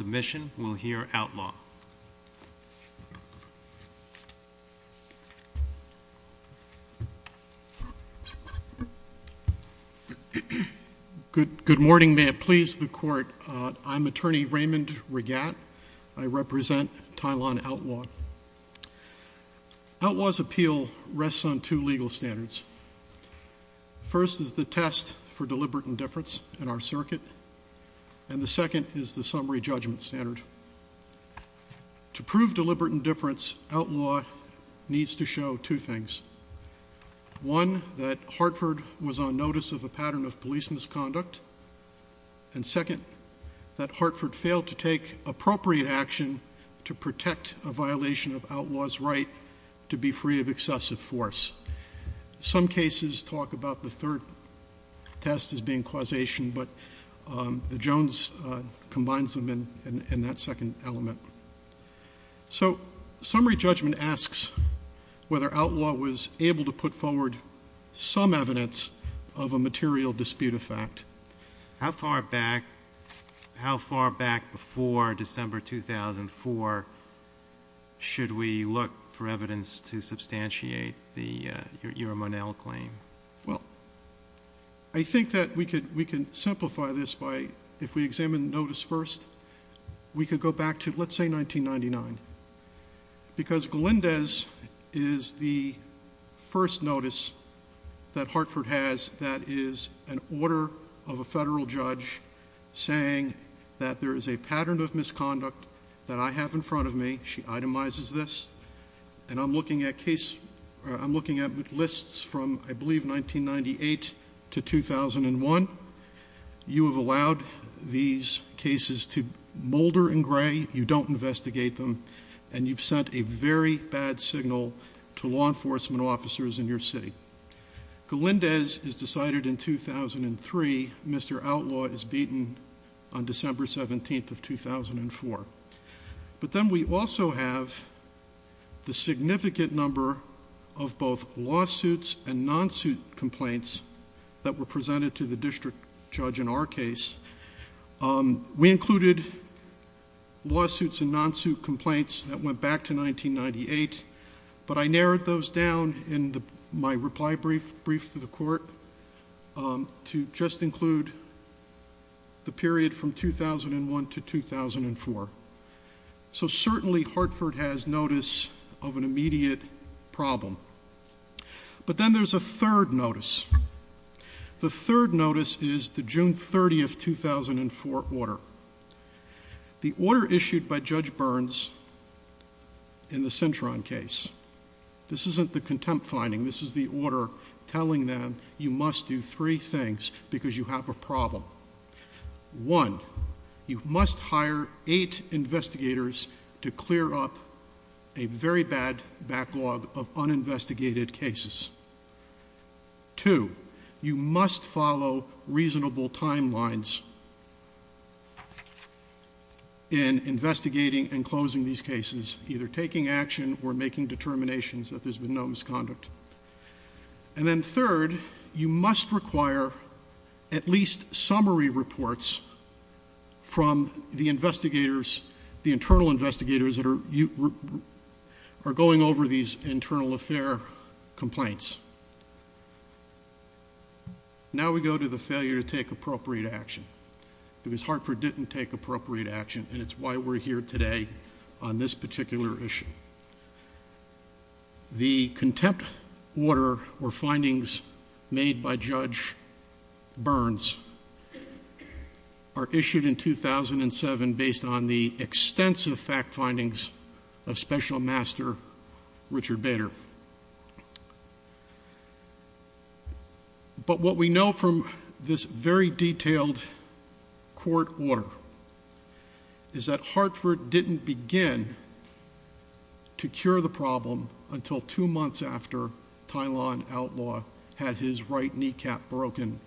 Submission will hear Outlaw. Good morning, may it please the court. I'm attorney Raymond Regatte. I represent Tylan Outlaw. Outlaw's appeal rests on two legal standards. First is the test for deliberate indifference in our circuit, and the second is the summary judgment standard. To prove deliberate indifference Outlaw needs to show two things. One, that Hartford was on notice of a pattern of police misconduct, and second, that Hartford failed to take appropriate action to protect a violation of Outlaw's right to be free of excessive force. Some cases talk about the third test as being causation, but the Jones combines them in that second element. So, summary judgment asks whether Outlaw was able to put forward some evidence of a material dispute of fact. How far back, how far back before December 2004 should we look for evidence to substantiate your Monell claim? Well, I think that we could, we can simplify this by, if we examine the notice first, we could go back to, let's say 1999, because Glendez is the first notice that Hartford has that is an order of a federal judge saying that there is a pattern of misconduct that I have in front of me, she itemizes this, and I'm looking at I'm looking at lists from, I believe, 1998 to 2001. You have allowed these cases to molder in gray, you don't investigate them, and you've sent a very bad signal to law enforcement officers in your city. Glendez is decided in 2003, Mr. Outlaw is beaten on December 17th of 2004. But then we also have the significant number of both lawsuits and non-suit complaints that were presented to the district judge in our case. We included lawsuits and non-suit complaints that went back to 1998, but I narrowed those down in my reply brief to the court to just include the period from 2001 to 2004. So certainly Hartford has notice of an immediate problem. But then there's a third notice. The third notice is the June 30th, 2004 order. The order issued by Judge Burns in the Cintron case, this isn't the contempt finding, this is the order telling them you must do three things because you have a problem. One, you must hire eight investigators to clear up a very bad backlog of uninvestigated cases. Two, you must follow reasonable timelines in investigating and closing these cases, either taking action or making determinations that there's been no misconduct. And then third, you must require at least summary reports from the investigators, the internal investigators that are going over these internal affair complaints. Now we go to the failure to take appropriate action because Hartford didn't take appropriate action and it's why we're here today on this particular issue. The contempt order or findings made by Judge Burns are issued in 2007 based on the extensive fact findings of Special Master Richard Bader. But what we know from this very detailed court order is that Hartford didn't begin to cure the problem until two months after Tylan Outlaw had his right kneecap broken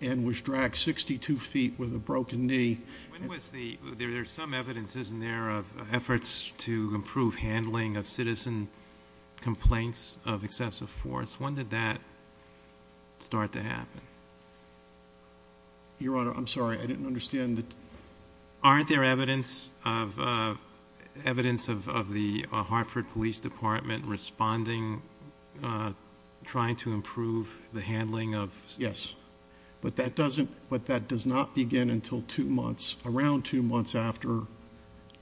and was dragged 62 feet with a broken knee. When was the, there's some evidence isn't there of efforts to improve handling of citizen complaints of excessive force, when did that start to happen? Your Honor, I'm sorry, I didn't understand. Aren't there evidence of the Hartford Police Department responding, trying to improve the handling of... Yes. But that doesn't, but that does not begin until two months, around two months after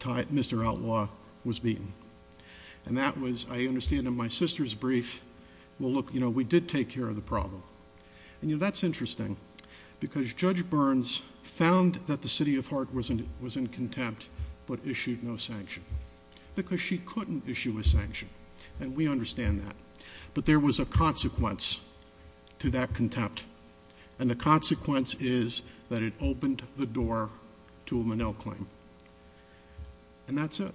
Mr. Outlaw was beaten. And that was, I understand in my sister's brief, well look, you know, we did take care of the problem. And you know, that's interesting because Judge Burns found that the city of Hartford was in contempt but issued no sanction. Because she couldn't issue a sanction. And we understand that. But there was a consequence to that contempt. And the consequence is that it opened the door to a Menil claim. And that's it.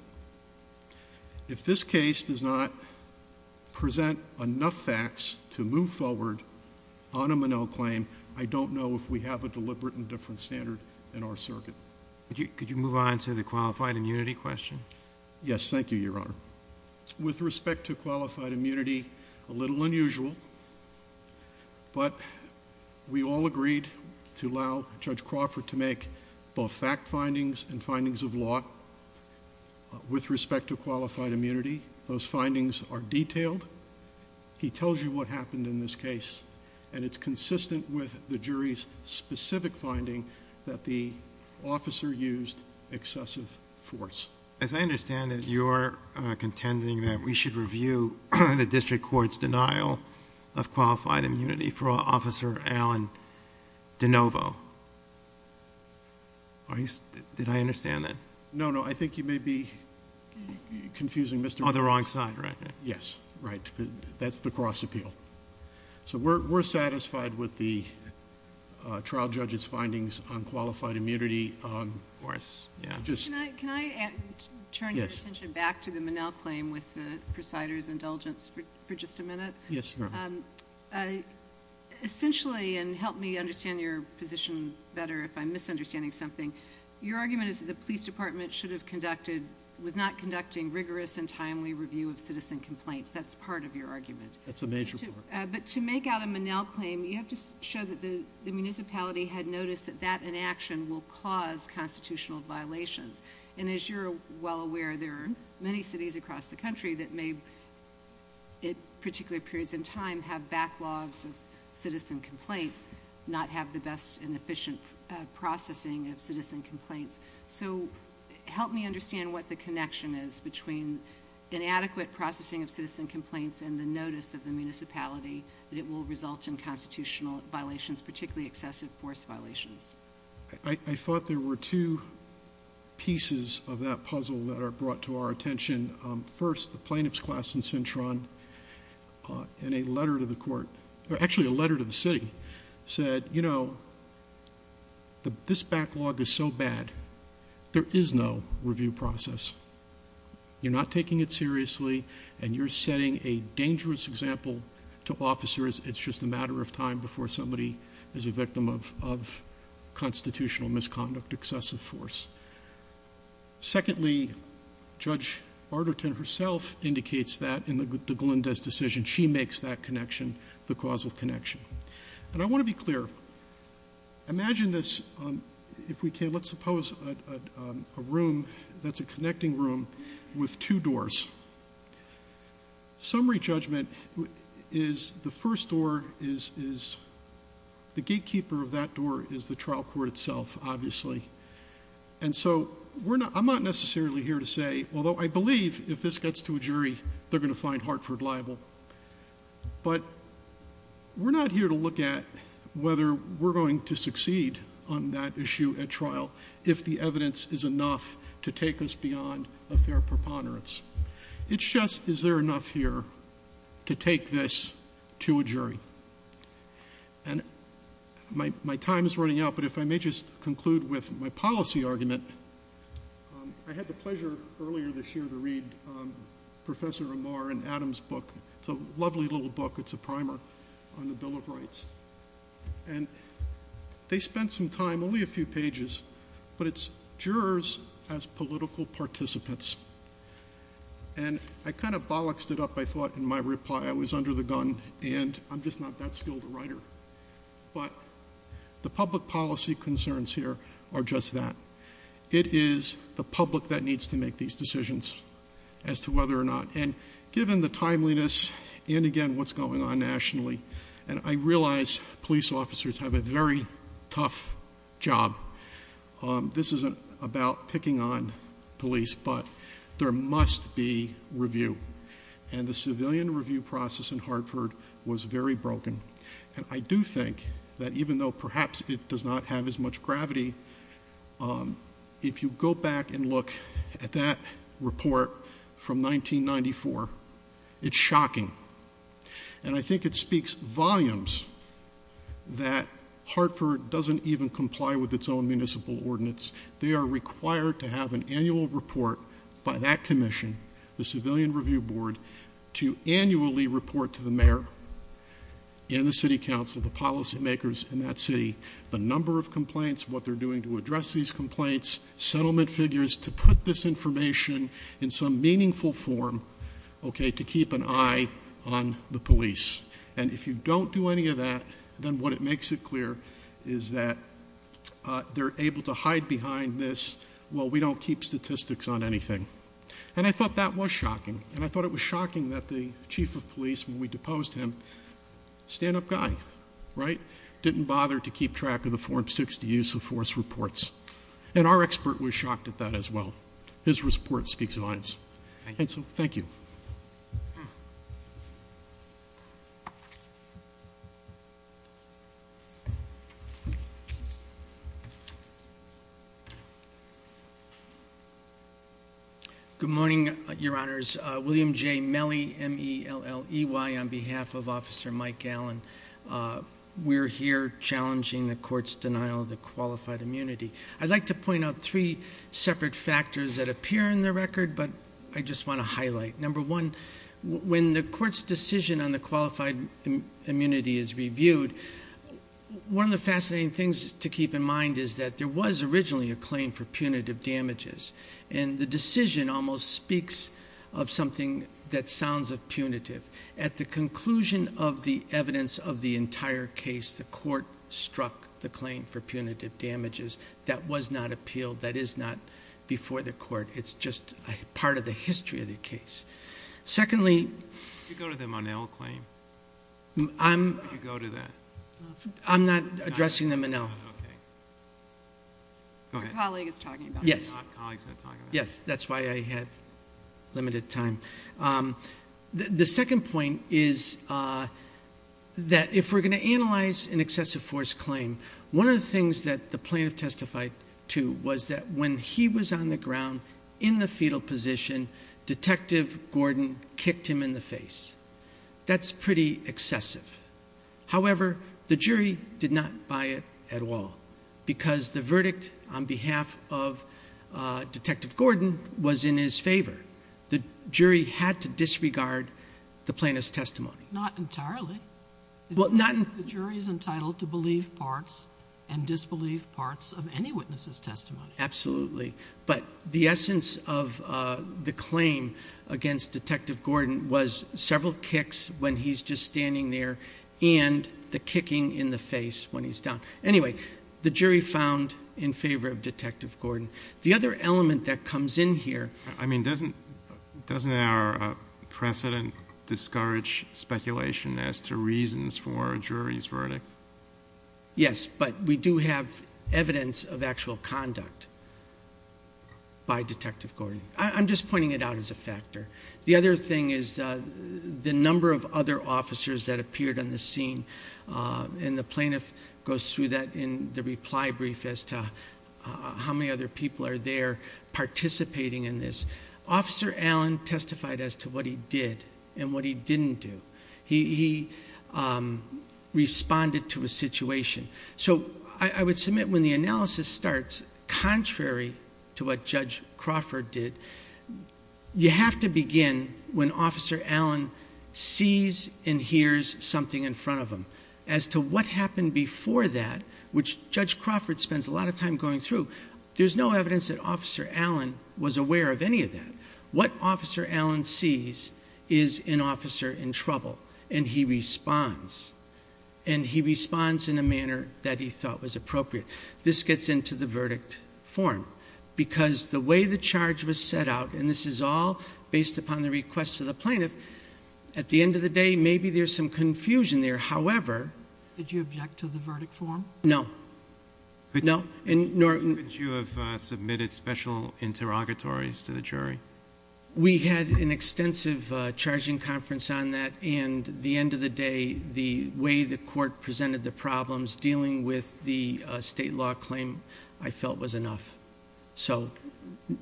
If this case does not present enough facts to move forward on a Menil claim, I don't know if we have a deliberate and different standard in our circuit. Could you move on to the qualified immunity question? Yes, thank you, Your Honor. With respect to qualified immunity, a little unusual, but we all agreed to allow Judge Crawford to make both fact findings and findings of law. With respect to qualified immunity, those findings are detailed. He tells you what happened in this case. And it's consistent with the jury's specific finding that the officer used excessive force. As I understand it, you're contending that we should review the district court's denial of qualified immunity for Officer Alan DeNovo. Did I understand that? No, no. I think you may be confusing Mr. Crawford. On the wrong side, right? Yes, right. That's the cross-appeal. So we're satisfied with the trial judge's findings on qualified immunity. Can I turn your attention back to the Menil claim with the presider's indulgence for just a minute? Yes, Your Honor. Essentially, and help me understand your position better if I'm misunderstanding something, your argument is that the police department should have conducted, was not conducting rigorous and timely review of citizen complaints. That's part of your argument. That's a major part. But to make out a Menil claim, you have to show that the municipality had noticed that that inaction will cause constitutional violations. And as you're well aware, there are many cities across the country that may, in particular periods in time, have backlogs of citizen complaints, not have the best and efficient processing of citizen complaints. So help me understand what the connection is between inadequate processing of citizen complaints and the notice of the municipality that it will result in constitutional violations, particularly excessive force violations. I thought there were two pieces of that puzzle that are brought to our attention. First, the plaintiff's class in Cintron in a letter to the court, actually a letter to the city, said, you know, this backlog is so bad, there is no review process. You're not taking it seriously and you're setting a dangerous example to officers. It's just a matter of time before somebody is a victim of constitutional misconduct, excessive force. Secondly, Judge Arterton herself indicates that in the Glendez decision, she makes that connection, the causal connection. And I want to be clear, imagine this, if we can, let's suppose a room that's a connecting room with two doors. Summary judgment is the first door is the gatekeeper of that door is the trial court itself, obviously. And so I'm not necessarily here to say, although I believe if this gets to a jury, they're going to find Hartford liable. But we're not here to look at whether we're going to succeed on that issue at trial if the evidence is enough to take us beyond a fair preponderance. It's just, is there enough here to take this to a jury? My time is running out, but if I may just conclude with my policy argument. I had the pleasure earlier this year to read Professor Amar and Adam's book. It's a lovely little book, it's a primer on the Bill of Rights. And they spent some time, only a few pages, but it's jurors as political participants. And I kind of bollocksed it up, I thought in my reply, I was under the gun and I'm just not that skilled a writer. But the public policy concerns here are just that. It is the public that needs to make these decisions as to whether or not, and given the timeliness, and again what's going on nationally, and I realize police officers have a very tough job. This isn't about picking on police, but there must be review. And the civilian review process in Hartford was very broken. And I do think that even though perhaps it does not have as much gravity, if you go back and look at that report from 1994, it's shocking. And I think it speaks volumes that Hartford doesn't even comply with its own municipal ordinance. They are required to have an annual report by that commission, the Civilian Review Board, to annually report to the mayor and the city council, the policy makers in that city, the number of complaints, what they're doing to address these complaints, settlement figures, to put this information in some meaningful form, okay, to keep an eye on the police. And if you don't do any of that, then what it makes it clear is that they're able to hide behind this, well, we don't keep statistics on anything. And I thought that was shocking. And I thought it was shocking that the chief of police, when we deposed him, stand-up guy, right, didn't bother to keep track of the Form 60 Use of Force reports. And our expert was shocked at that as well. His report speaks volumes. And so, thank you. Good morning, Your Honors. William J. Melley, M-E-L-L-E-Y, on behalf of Officer Mike Allen. We're here challenging the court's denial of the qualified immunity. I'd like to point out three separate factors that appear in the record, but I just want to highlight. Number one, when the court's decision on the qualified immunity is reviewed, one of the fascinating things to keep in mind is that there was originally a claim for punitive damages. And the decision almost speaks of something that sounds punitive. At the conclusion of the evidence of the entire case, the court struck the claim for punitive damages. That was not appealed. That is not before the court. It's just a part of the history of the case. Secondly... Could you go to the Monell claim? Could you go to that? I'm not addressing the Monell. Okay. Go ahead. Your colleague is talking about it. Yes. My colleague is going to talk about it. Yes, that's why I have limited time. The second point is that if we're going to analyze an excessive force claim, one of the things that the plaintiff testified to was that when he was on the ground in the fetal position, Detective Gordon kicked him in the face. That's pretty excessive. However, the jury did not buy it at all because the verdict on behalf of Detective Gordon was in his favor. The jury had to disregard the plaintiff's testimony. Not entirely. The jury is entitled to believe parts and disbelieve parts of any witness's testimony. Absolutely. But the essence of the claim against Detective Gordon was several kicks when he's just standing there and the kicking in the face when he's down. Anyway, the jury found in favor of Detective Gordon. The other element that comes in here... I mean, doesn't our precedent discourage speculation as to reasons for a jury's verdict? Yes, but we do have evidence of actual conduct by Detective Gordon. I'm just pointing it out as a factor. The other thing is the number of other officers that appeared on the scene and the plaintiff goes through that in the reply brief as to how many other people are there participating in this. Officer Allen testified as to what he did and what he didn't do. He responded to a situation. I would submit when the analysis starts, contrary to what Judge Crawford did, you have to begin when Officer Allen sees and hears something in front of him. As to what happened before that, which Judge Crawford spends a lot of time going through, there's no evidence that Officer Allen was aware of any of that. What Officer Allen sees is an officer in trouble and he responds. He responds in a manner that he thought was appropriate. This gets into the verdict form because the way the charge was set out, and this is all based upon the request of the plaintiff, at the end of the day maybe there's some confusion there. However... Did you object to the verdict form? No. Could you have submitted special interrogatories to the jury? We had an extensive charging conference on that and the end of the day, the way the court presented the problems dealing with the state law claim, I felt was enough.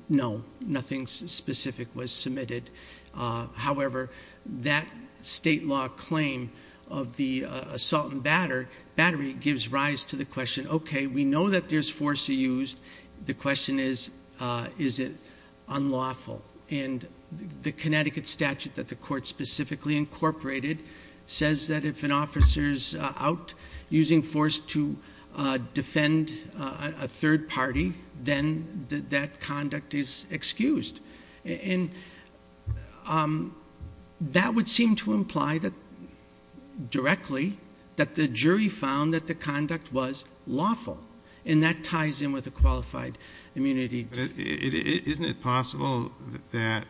No, nothing specific was submitted. However, that state law claim of the assault and battery gives rise to the question, okay, we know that there's force used. The question is, is it unlawful? The Connecticut statute that the court specifically incorporated says that if an officer is out using force to defend a third party, then that conduct is excused. That would seem to imply that directly that the jury found that the conduct was qualified immunity. Isn't it possible that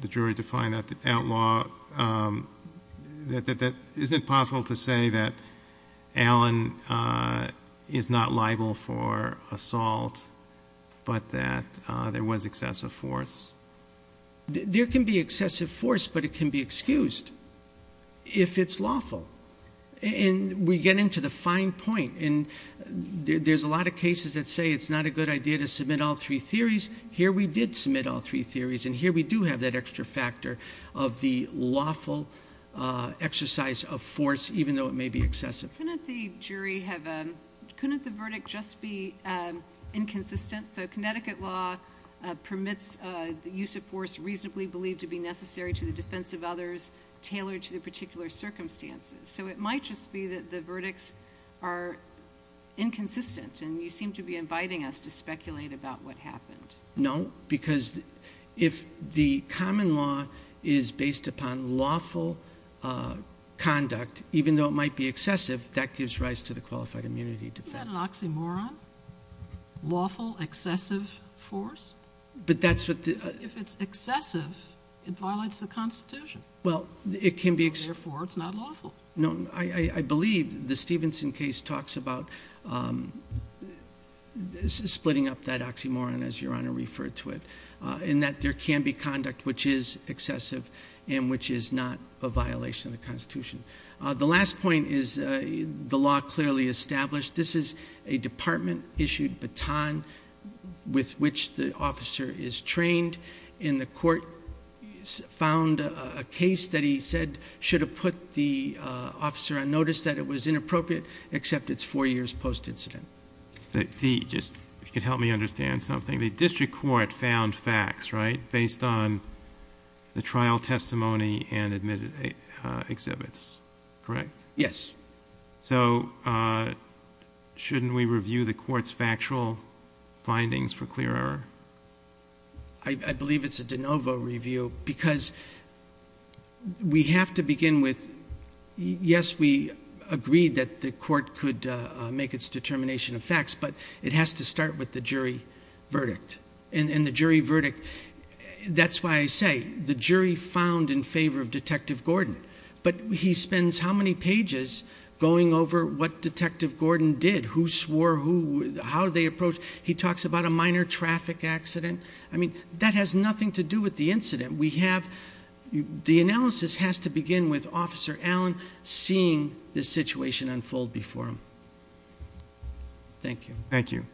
the jury defined that outlaw... Isn't it possible to say that Allen is not liable for assault, but that there was excessive force? There can be excessive force, but it can be excused if it's lawful. We get into the fine point. There's a lot of cases that say it's not a good idea to submit all three theories. Here we did submit all three theories and here we do have that extra factor of the lawful exercise of force, even though it may be excessive. Couldn't the verdict just be inconsistent? So Connecticut law permits the use of force reasonably believed to be necessary to the defense of others tailored to the particular circumstances. So it might just be that the verdicts are inconsistent and you seem to be inviting us to speculate about what happened. No, because if the common law is based upon lawful conduct, even though it might be excessive, that gives rise to the qualified immunity defense. Isn't that an oxymoron? Lawful excessive force? But that's what the... If it's excessive, it violates the Constitution. Well, it can be... Therefore, it's not lawful. No, I believe the Stevenson case talks about splitting up that oxymoron, as Your Honor referred to it, in that there can be conduct which is excessive and which is not a violation of the Constitution. The last point is the law clearly established. This is a department-issued baton with which the officer is trained and the court found a case that he said should have put the officer on notice that it was inappropriate except it's four years post-incident. If you could help me understand something. The district court found facts, right, based on the trial testimony and admitted exhibits, correct? Yes. So shouldn't we review the court's factual findings for clear error? I believe it's a de novo review because we have to begin with... Yes, we agreed that the court could make its determination of facts, but it has to start with the jury verdict. And the jury verdict... That's why I say the jury found in favor of Detective Gordon, but he spends how many pages going over what Detective Gordon did, who swore who... He talks about a minor traffic accident. I mean, that has nothing to do with the incident. We have... The analysis has to begin with Officer Allen seeing the situation unfold before him. Thank you. Thank you.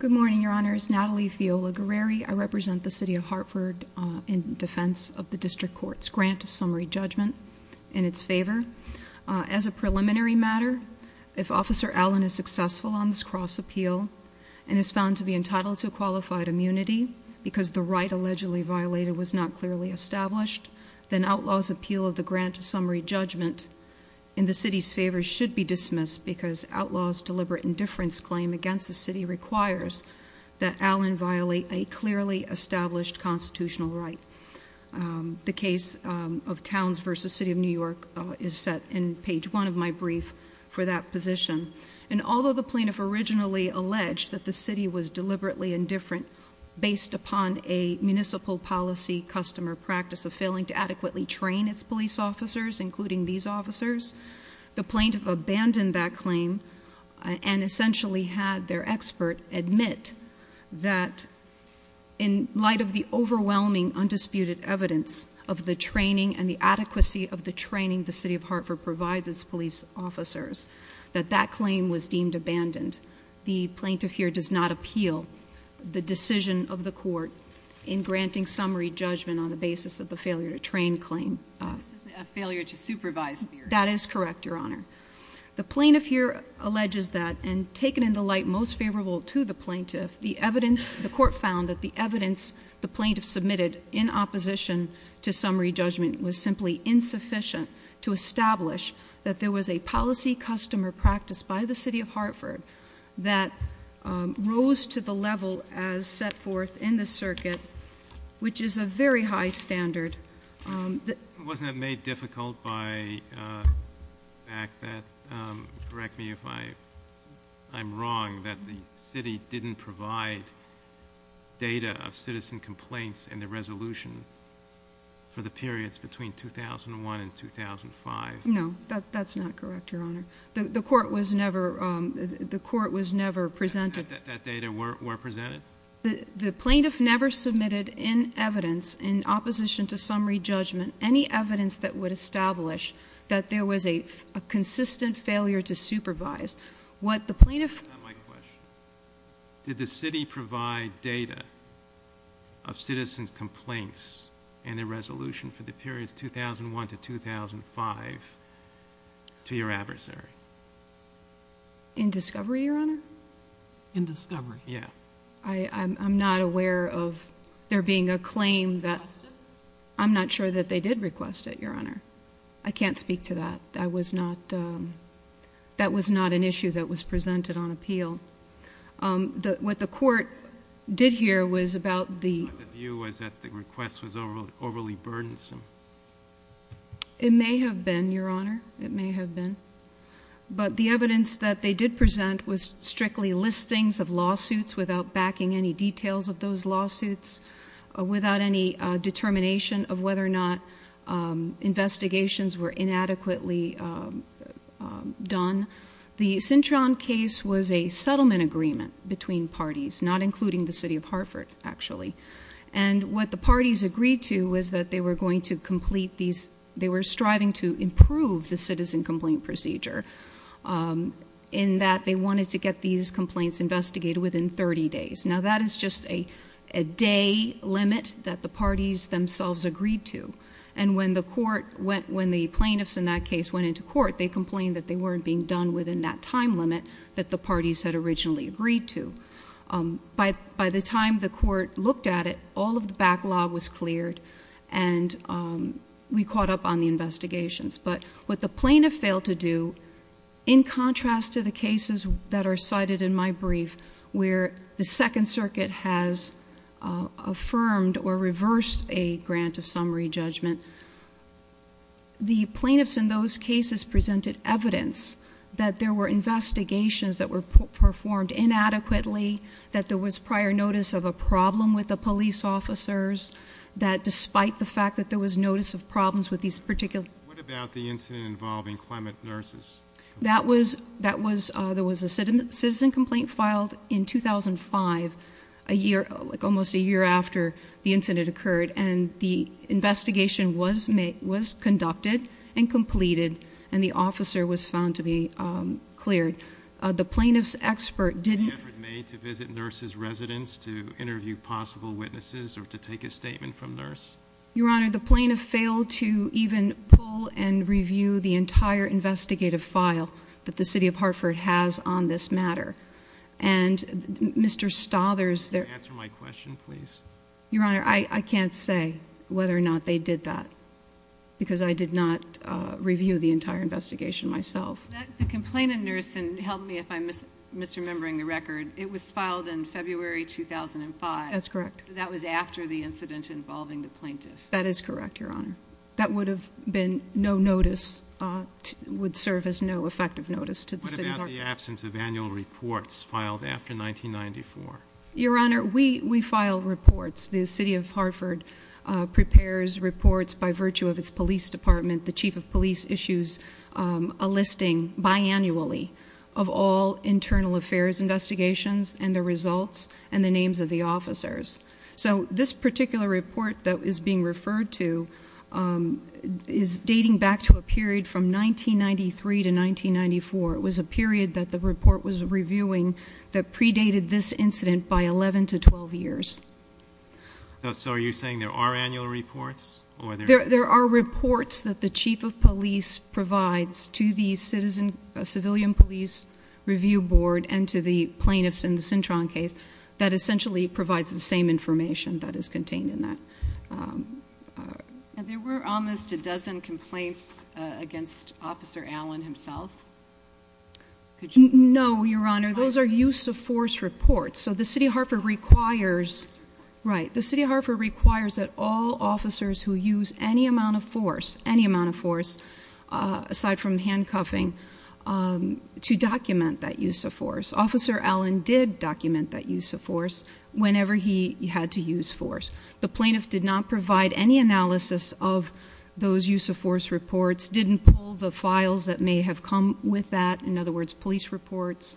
Good morning, Your Honors. Natalie Fiola Guerreri. I represent the City of Hartford in defense of the district court's grant summary judgment in its favor. As a preliminary matter, if Officer Allen is successful on this cross-appeal and is found to be entitled to qualified immunity because the right allegedly violated was not clearly established, then outlaw's appeal of the grant summary judgment in the city's favor should be dismissed because outlaw's deliberate indifference claim against the city requires that Allen violate a clearly established constitutional right. The case of Towns versus City of New York is set in page one of my brief for that position. And although the plaintiff originally alleged that the city was deliberately indifferent based upon a municipal policy customer practice of failing to adequately train its police officers, including these officers, the plaintiff abandoned that claim and essentially had their expert admit that in light of the overwhelming undisputed evidence of the training and the adequacy of the training the City of Hartford provides its police officers, that that claim was deemed abandoned. The plaintiff here does not appeal the decision of the court in granting summary judgment on the basis of the failure to train claim. A failure to supervise. That is correct, Your Honor. The plaintiff here alleges that, and taken in the light most favorable to the plaintiff, the evidence, the court found that the evidence the plaintiff submitted in opposition to summary judgment was simply insufficient to establish that there was a policy customer practice by the City of Hartford that rose to the level as set forth in the circuit, which is a very high standard Wasn't that made difficult by the fact that, correct me if I'm wrong, that the City didn't provide data of citizen complaints in the resolution for the periods between 2001 and 2005? No, that's not correct, Your Honor. The court was never presented. That data were presented? The plaintiff never submitted in evidence in opposition to summary judgment any evidence that would establish that there was a consistent failure to supervise. That's not my question. Did the City provide data of citizen complaints in the resolution for the periods 2001 to 2005 to your adversary? In discovery, Your Honor? In discovery. I'm not aware of there being a claim that... Requested? I'm not sure that they did request it, Your Honor. I can't speak to that. That was not... that was not an issue that was presented on appeal. What the court did here was about the... The view was that the request was overly burdensome. It may have been, Your Honor. It may have been, but the evidence that they did present was strictly listings of lawsuits without backing any details of those lawsuits. Without any determination of whether or not investigations were inadequately done. The Cintron case was a settlement agreement between parties, not including the City of Hartford, actually. And what the parties agreed to was that they were going to complete these... They were striving to improve the citizen complaint procedure in that they wanted to get these complaints investigated within 30 days. Now that is just a day limit that the parties themselves agreed to. And when the court went... When the plaintiffs in that case went into court, they complained that they weren't being done within that time limit that the parties had originally agreed to. By the time the court looked at it, all of the backlog was cleared and we caught up on the investigations. But what the plaintiff failed to do, in contrast to the cases that are cited in my brief, where the Second Circuit has affirmed or reversed a grant of summary judgment, the plaintiffs in those cases presented evidence that there were investigations that were performed inadequately, that there was prior notice of a problem with the police officers, that despite the fact that there was notice of problems with these particular... What about the incident involving Clement Nurses? There was a citizen complaint filed in 2005, almost a year after the incident occurred, and the investigation was conducted and completed, and the officer was found to be cleared. The plaintiff's expert didn't... The effort made to visit Nurses' residence to interview possible witnesses or to take a statement from Nurse? Your Honor, the plaintiff failed to even pull and review the entire investigative file that the City of Hartford has on this matter, and Mr. Stothers... Can you answer my question, please? Your Honor, I can't say whether or not they did that, because I did not review the entire investigation myself. The complaint in Nursing, help me if I'm misremembering the record, it was filed in February 2005. That's correct. That was after the incident involving the plaintiff. That is correct, Your Honor. That would have been no notice... would serve as no effective notice to the City of Hartford. What about the absence of annual reports filed after 1994? Your Honor, we file reports. The City of Hartford prepares reports by virtue of its Police Department, the Chief of Police issues a listing, biannually, of all internal affairs investigations and the results and the names of the officers. So this particular report that is being referred to is dating back to a period from 1993 to 1994. It was a period that the report was reviewing that predated this incident by 11 to 12 years. So are you saying there are annual reports? There are reports that the Chief of Police provides to the Civilian Police Review Board and to the plaintiffs in the Cintron case that essentially provides the same information that is contained in that There were almost a dozen complaints against Officer Allen himself. No, Your Honor, those are use of force reports. So the City of Hartford requires... right, the City of Hartford requires that all officers who use any amount of force, any amount of force, aside from handcuffing, to document that use of force. Officer Allen did document that use of force whenever he had to use force. The plaintiff did not provide any analysis of those use of force reports, didn't pull the files that may have come with that, in other words, police reports,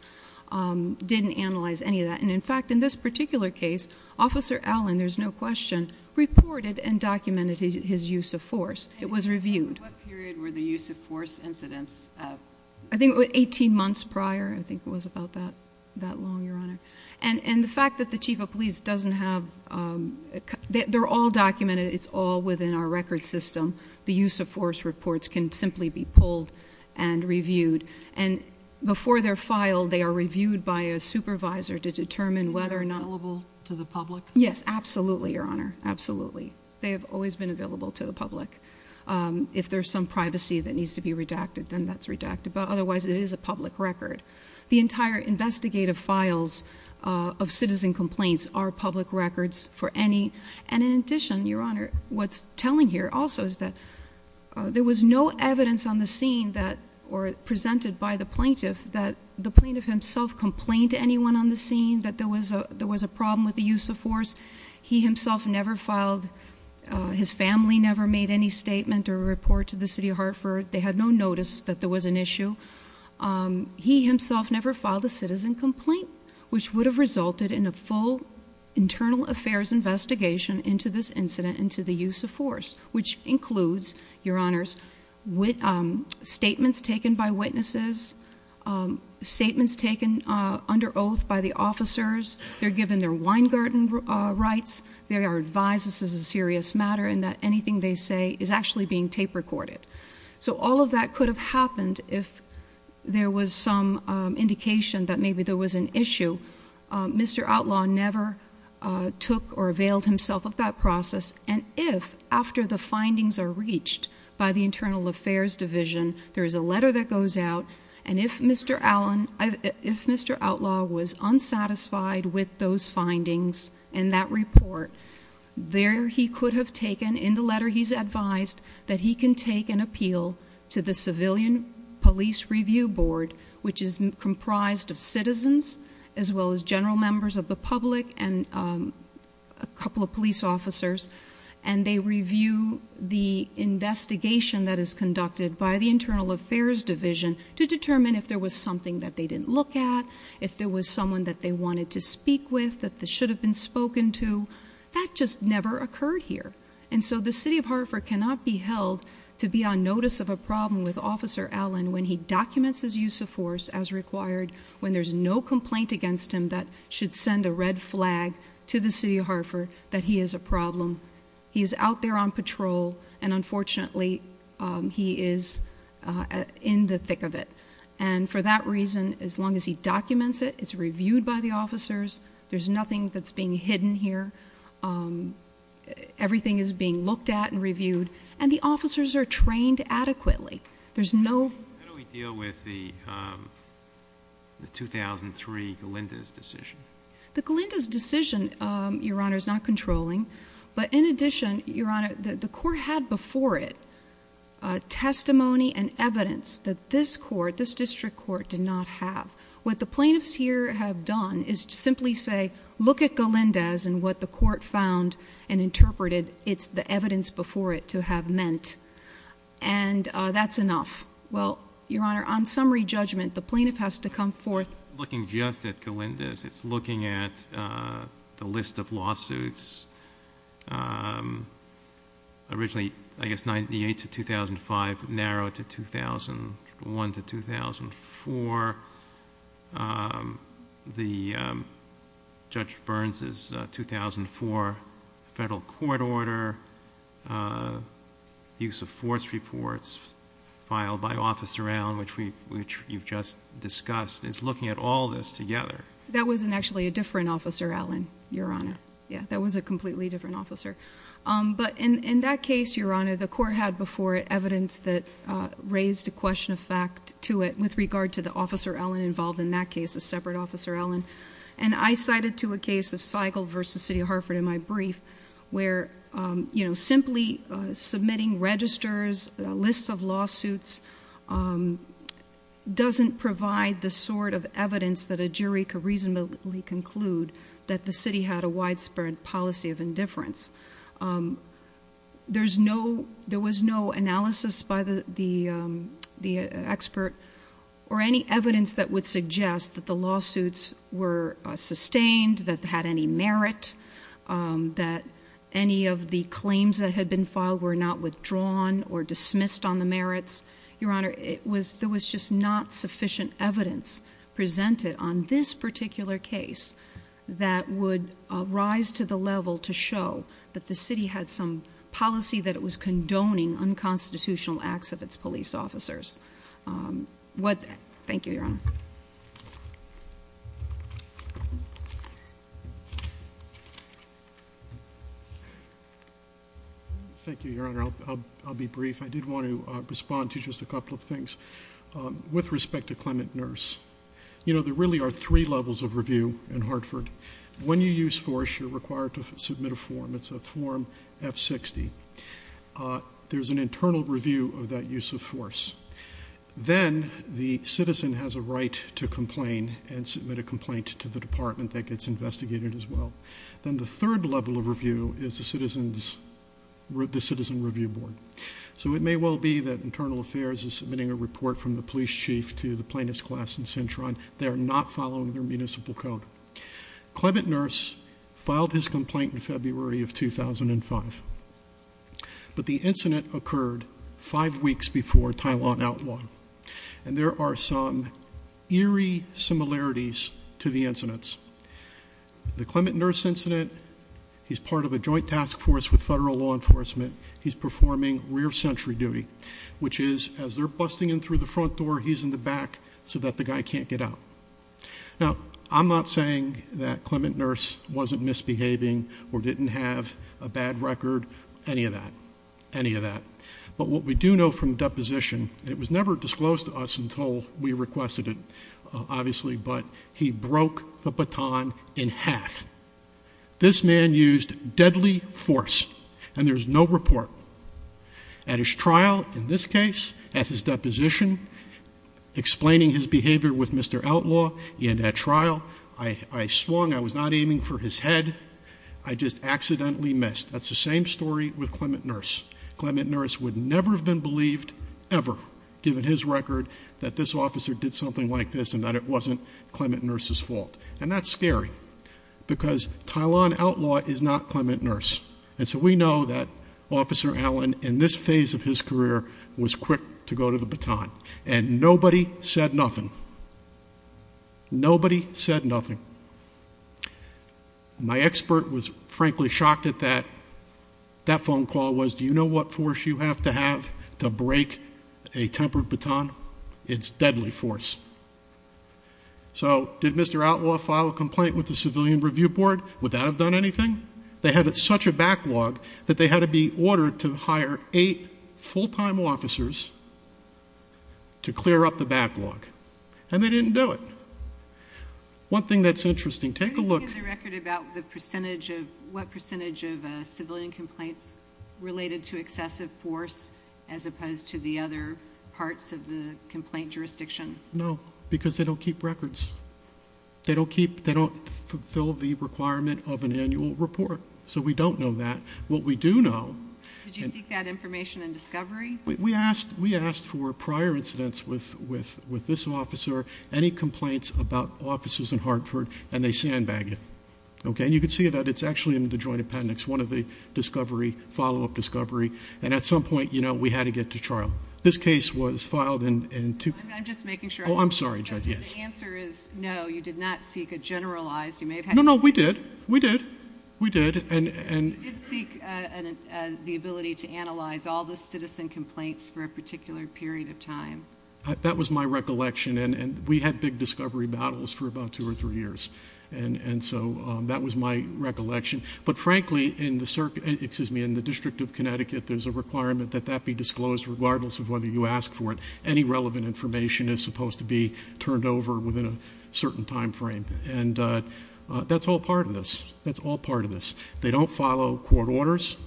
didn't analyze any of that. And in fact, in this particular case, Officer Allen, there's no question, reported and documented his use of force. It was reviewed. What period were the use of force incidents? I think it was 18 months prior. I think it was about that long, Your Honor. And the fact that the Chief of Police doesn't have... they're all documented. It's all within our record system. The use of force reports can simply be pulled and reviewed. And before they're filed, they are reviewed by a supervisor to determine whether or not... Are they available to the public? Yes, absolutely, Your Honor, absolutely. They have always been available to the public. If there's some privacy that needs to be redacted, then that's redacted. But otherwise, it is a public record. The entire investigative files of citizen complaints are public records for any... and in addition, Your Honor, what's telling here also is that there was no evidence on the scene that... or presented by the plaintiff that the plaintiff himself complained to anyone on the scene that there was a... there was a problem with the use of force. He himself never filed... his family never made any statement or report to the City of Hartford. They had no notice that there was an issue. He himself never filed a citizen complaint, which would have resulted in a full internal affairs investigation into this incident into the use of force, which includes, Your Honors, statements taken by witnesses, statements taken under oath by the officers. They're given their wine garden rights. They are advised this is a serious matter and that anything they say is actually being tape recorded. So all of that could have happened if there was some indication that maybe there was an issue. Mr. Outlaw never took or availed himself of that process and if, after the findings are reached by the Internal Affairs Division, there's a letter that goes out and if Mr. Allen... if Mr. Outlaw was unsatisfied with those findings and that report, there he could have taken in the letter he's advised that he can take an appeal to the Civilian Police Review Board, which is comprised of citizens as well as general members of the public and a couple of police officers and they review the investigation that is conducted by the Internal Affairs Division to determine if there was something that they didn't look at, if there was someone that they wanted to speak with, that they should have been spoken to. That just never occurred here and so the City of Hartford cannot be held to be on notice of a problem with Officer Allen when he documents his use of force as required, when there's no complaint against him that should send a red flag to the City of Hartford that he is a problem. He is out there on patrol and unfortunately he is in the thick of it and for that reason, as long as he documents it, it's reviewed by the officers, there's nothing that's being hidden here, everything is being looked at and reviewed and the officers are trained adequately. There's no... How do we deal with the 2003 Galinda's decision? The Galinda's decision, Your Honor, is not controlling but in addition, Your Honor, the court had before it testimony and evidence that this court, this district court, did not have. What the plaintiffs here have done is simply say, look at Galinda's and what the court found and interpreted, it's the evidence before it to have meant and that's enough. Well, Your Honor, on summary judgment, the plaintiff has to come forth... Looking just at Galinda's, it's looking at the list of lawsuits, originally, I guess, 98 to 2005, narrowed to 2001 to 2004, the Judge Burns' 2004 federal court order, use of force reports filed by Officer Allen, which you've just discussed, it's looking at all this together. That was actually a different Officer Allen, Your Honor. Yeah, that was a completely different Officer. But in that case, Your Honor, the court had before it evidence that raised a question of fact to it with regard to the Officer Allen involved in that case, a separate Officer Allen. And I cited to a case of Seigel versus City of Hartford in my brief where simply submitting registers, lists of lawsuits, doesn't provide the sort of evidence that a jury could reasonably conclude that the city had a widespread policy of indifference. There was no analysis by the expert or any evidence that would suggest that the lawsuits were sustained, that they had any merit, that any of the claims that had been filed were not withdrawn or dismissed on the merits. Your Honor, there was just not sufficient evidence presented on this particular case that would rise to the level to show that the city had some policy that it was condoning unconstitutional acts of its police officers. Thank you, Your Honor. Thank you, Your Honor. I'll be brief. I did want to respond to just a couple of things with respect to Clement Nurse. You know, there really are three levels of review in Hartford. When you use force, you're required to submit a form. It's a Form F60. There's an internal review of that use of force. Then the citizen has a right to complain and submit a complaint to the department that gets investigated as well. Then the third level of review is the Citizen Review Board. So it may well be that Internal Affairs is submitting a report from the police chief to the plaintiff's class in Cintron. They are not following their municipal code. Clement Nurse filed his complaint in February of 2005, but the incident occurred five weeks before Tylen Outlaw. And there are some eerie similarities to the incidents. The Clement Nurse incident, he's part of a joint task force with federal law enforcement. He's performing rear sentry duty, which is, as they're busting in through the front door, he's in the back so that the guy can't get out. Now, I'm not saying that Clement Nurse wasn't misbehaving or didn't have a bad record. Any of that. Any of that. But what we do know from deposition, and it was never disclosed to us until we requested it, obviously, but he broke the baton in half. This man used deadly force, and there's no report. At his trial, in this case, at his deposition, explaining his behavior with Mr. Outlaw, in that trial, I swung, I was not aiming for his head, I just accidentally missed. That's the same story with Clement Nurse. Clement Nurse would never have been believed, ever, given his record, that this officer did something like this and that it wasn't Clement Nurse's fault. And that's scary, because Tylen Outlaw is not Clement Nurse. And so we know that Officer Allen, in this phase of his career, was quick to go to the baton. And nobody said nothing. Nobody said nothing. My expert was frankly shocked at that. That phone call was, do you know what force you have to have to break a tempered baton? It's deadly force. So, did Mr. Outlaw file a complaint with the Civilian Review Board? Would that have done anything? They had such a backlog that they had to be ordered to hire eight full-time officers to clear up the backlog. And they didn't do it. One thing that's interesting, take a look- What percentage of civilian complaints related to excessive force, as opposed to the other parts of the complaint jurisdiction? No, because they don't keep records. They don't fulfill the requirement of an annual report. So we don't know that. What we do know- Did you seek that information in discovery? We asked for prior incidents with this officer, any complaints about officers in Hartford, and they sandbag it. And you can see that it's actually in the Joint Appendix, one of the follow-up discovery. And at some point, we had to get to trial. I'm just making sure- No, you did not seek a generalized- You did seek the ability to analyze all the citizen complaints for a particular period of time. That was my recollection. And we had big discovery battles for about two or three years. And so that was my recollection. But frankly, in the District of Connecticut, there's a requirement that that be disclosed regardless of whether you ask for it. Any relevant information is supposed to be turned over within a certain time frame. And that's all part of this. They don't follow court orders.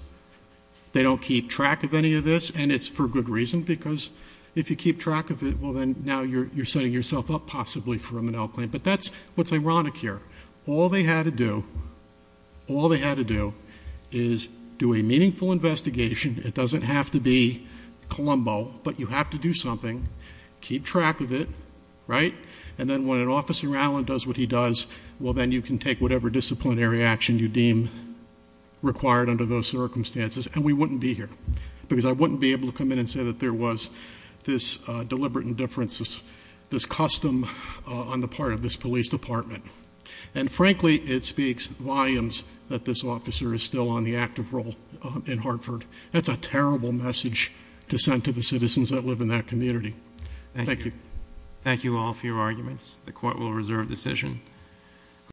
They don't keep track of any of this. And it's for good reason, because if you keep track of it, well, then now you're setting yourself up possibly for a Monell claim. But that's what's ironic here. All they had to do is do a meaningful investigation. It doesn't have to be Colombo, but you have to do something, keep track of it, right? And then when an officer, Alan, does what he does, well, then you can take whatever disciplinary action you deem required under those circumstances. And we wouldn't be here, because I wouldn't be able to come in and say that there was this deliberate indifference, this custom on the part of this police department. And frankly, it speaks volumes that this officer is still on the active role in Hartford. That's a terrible message to send to the citizens that live in that community. Thank you.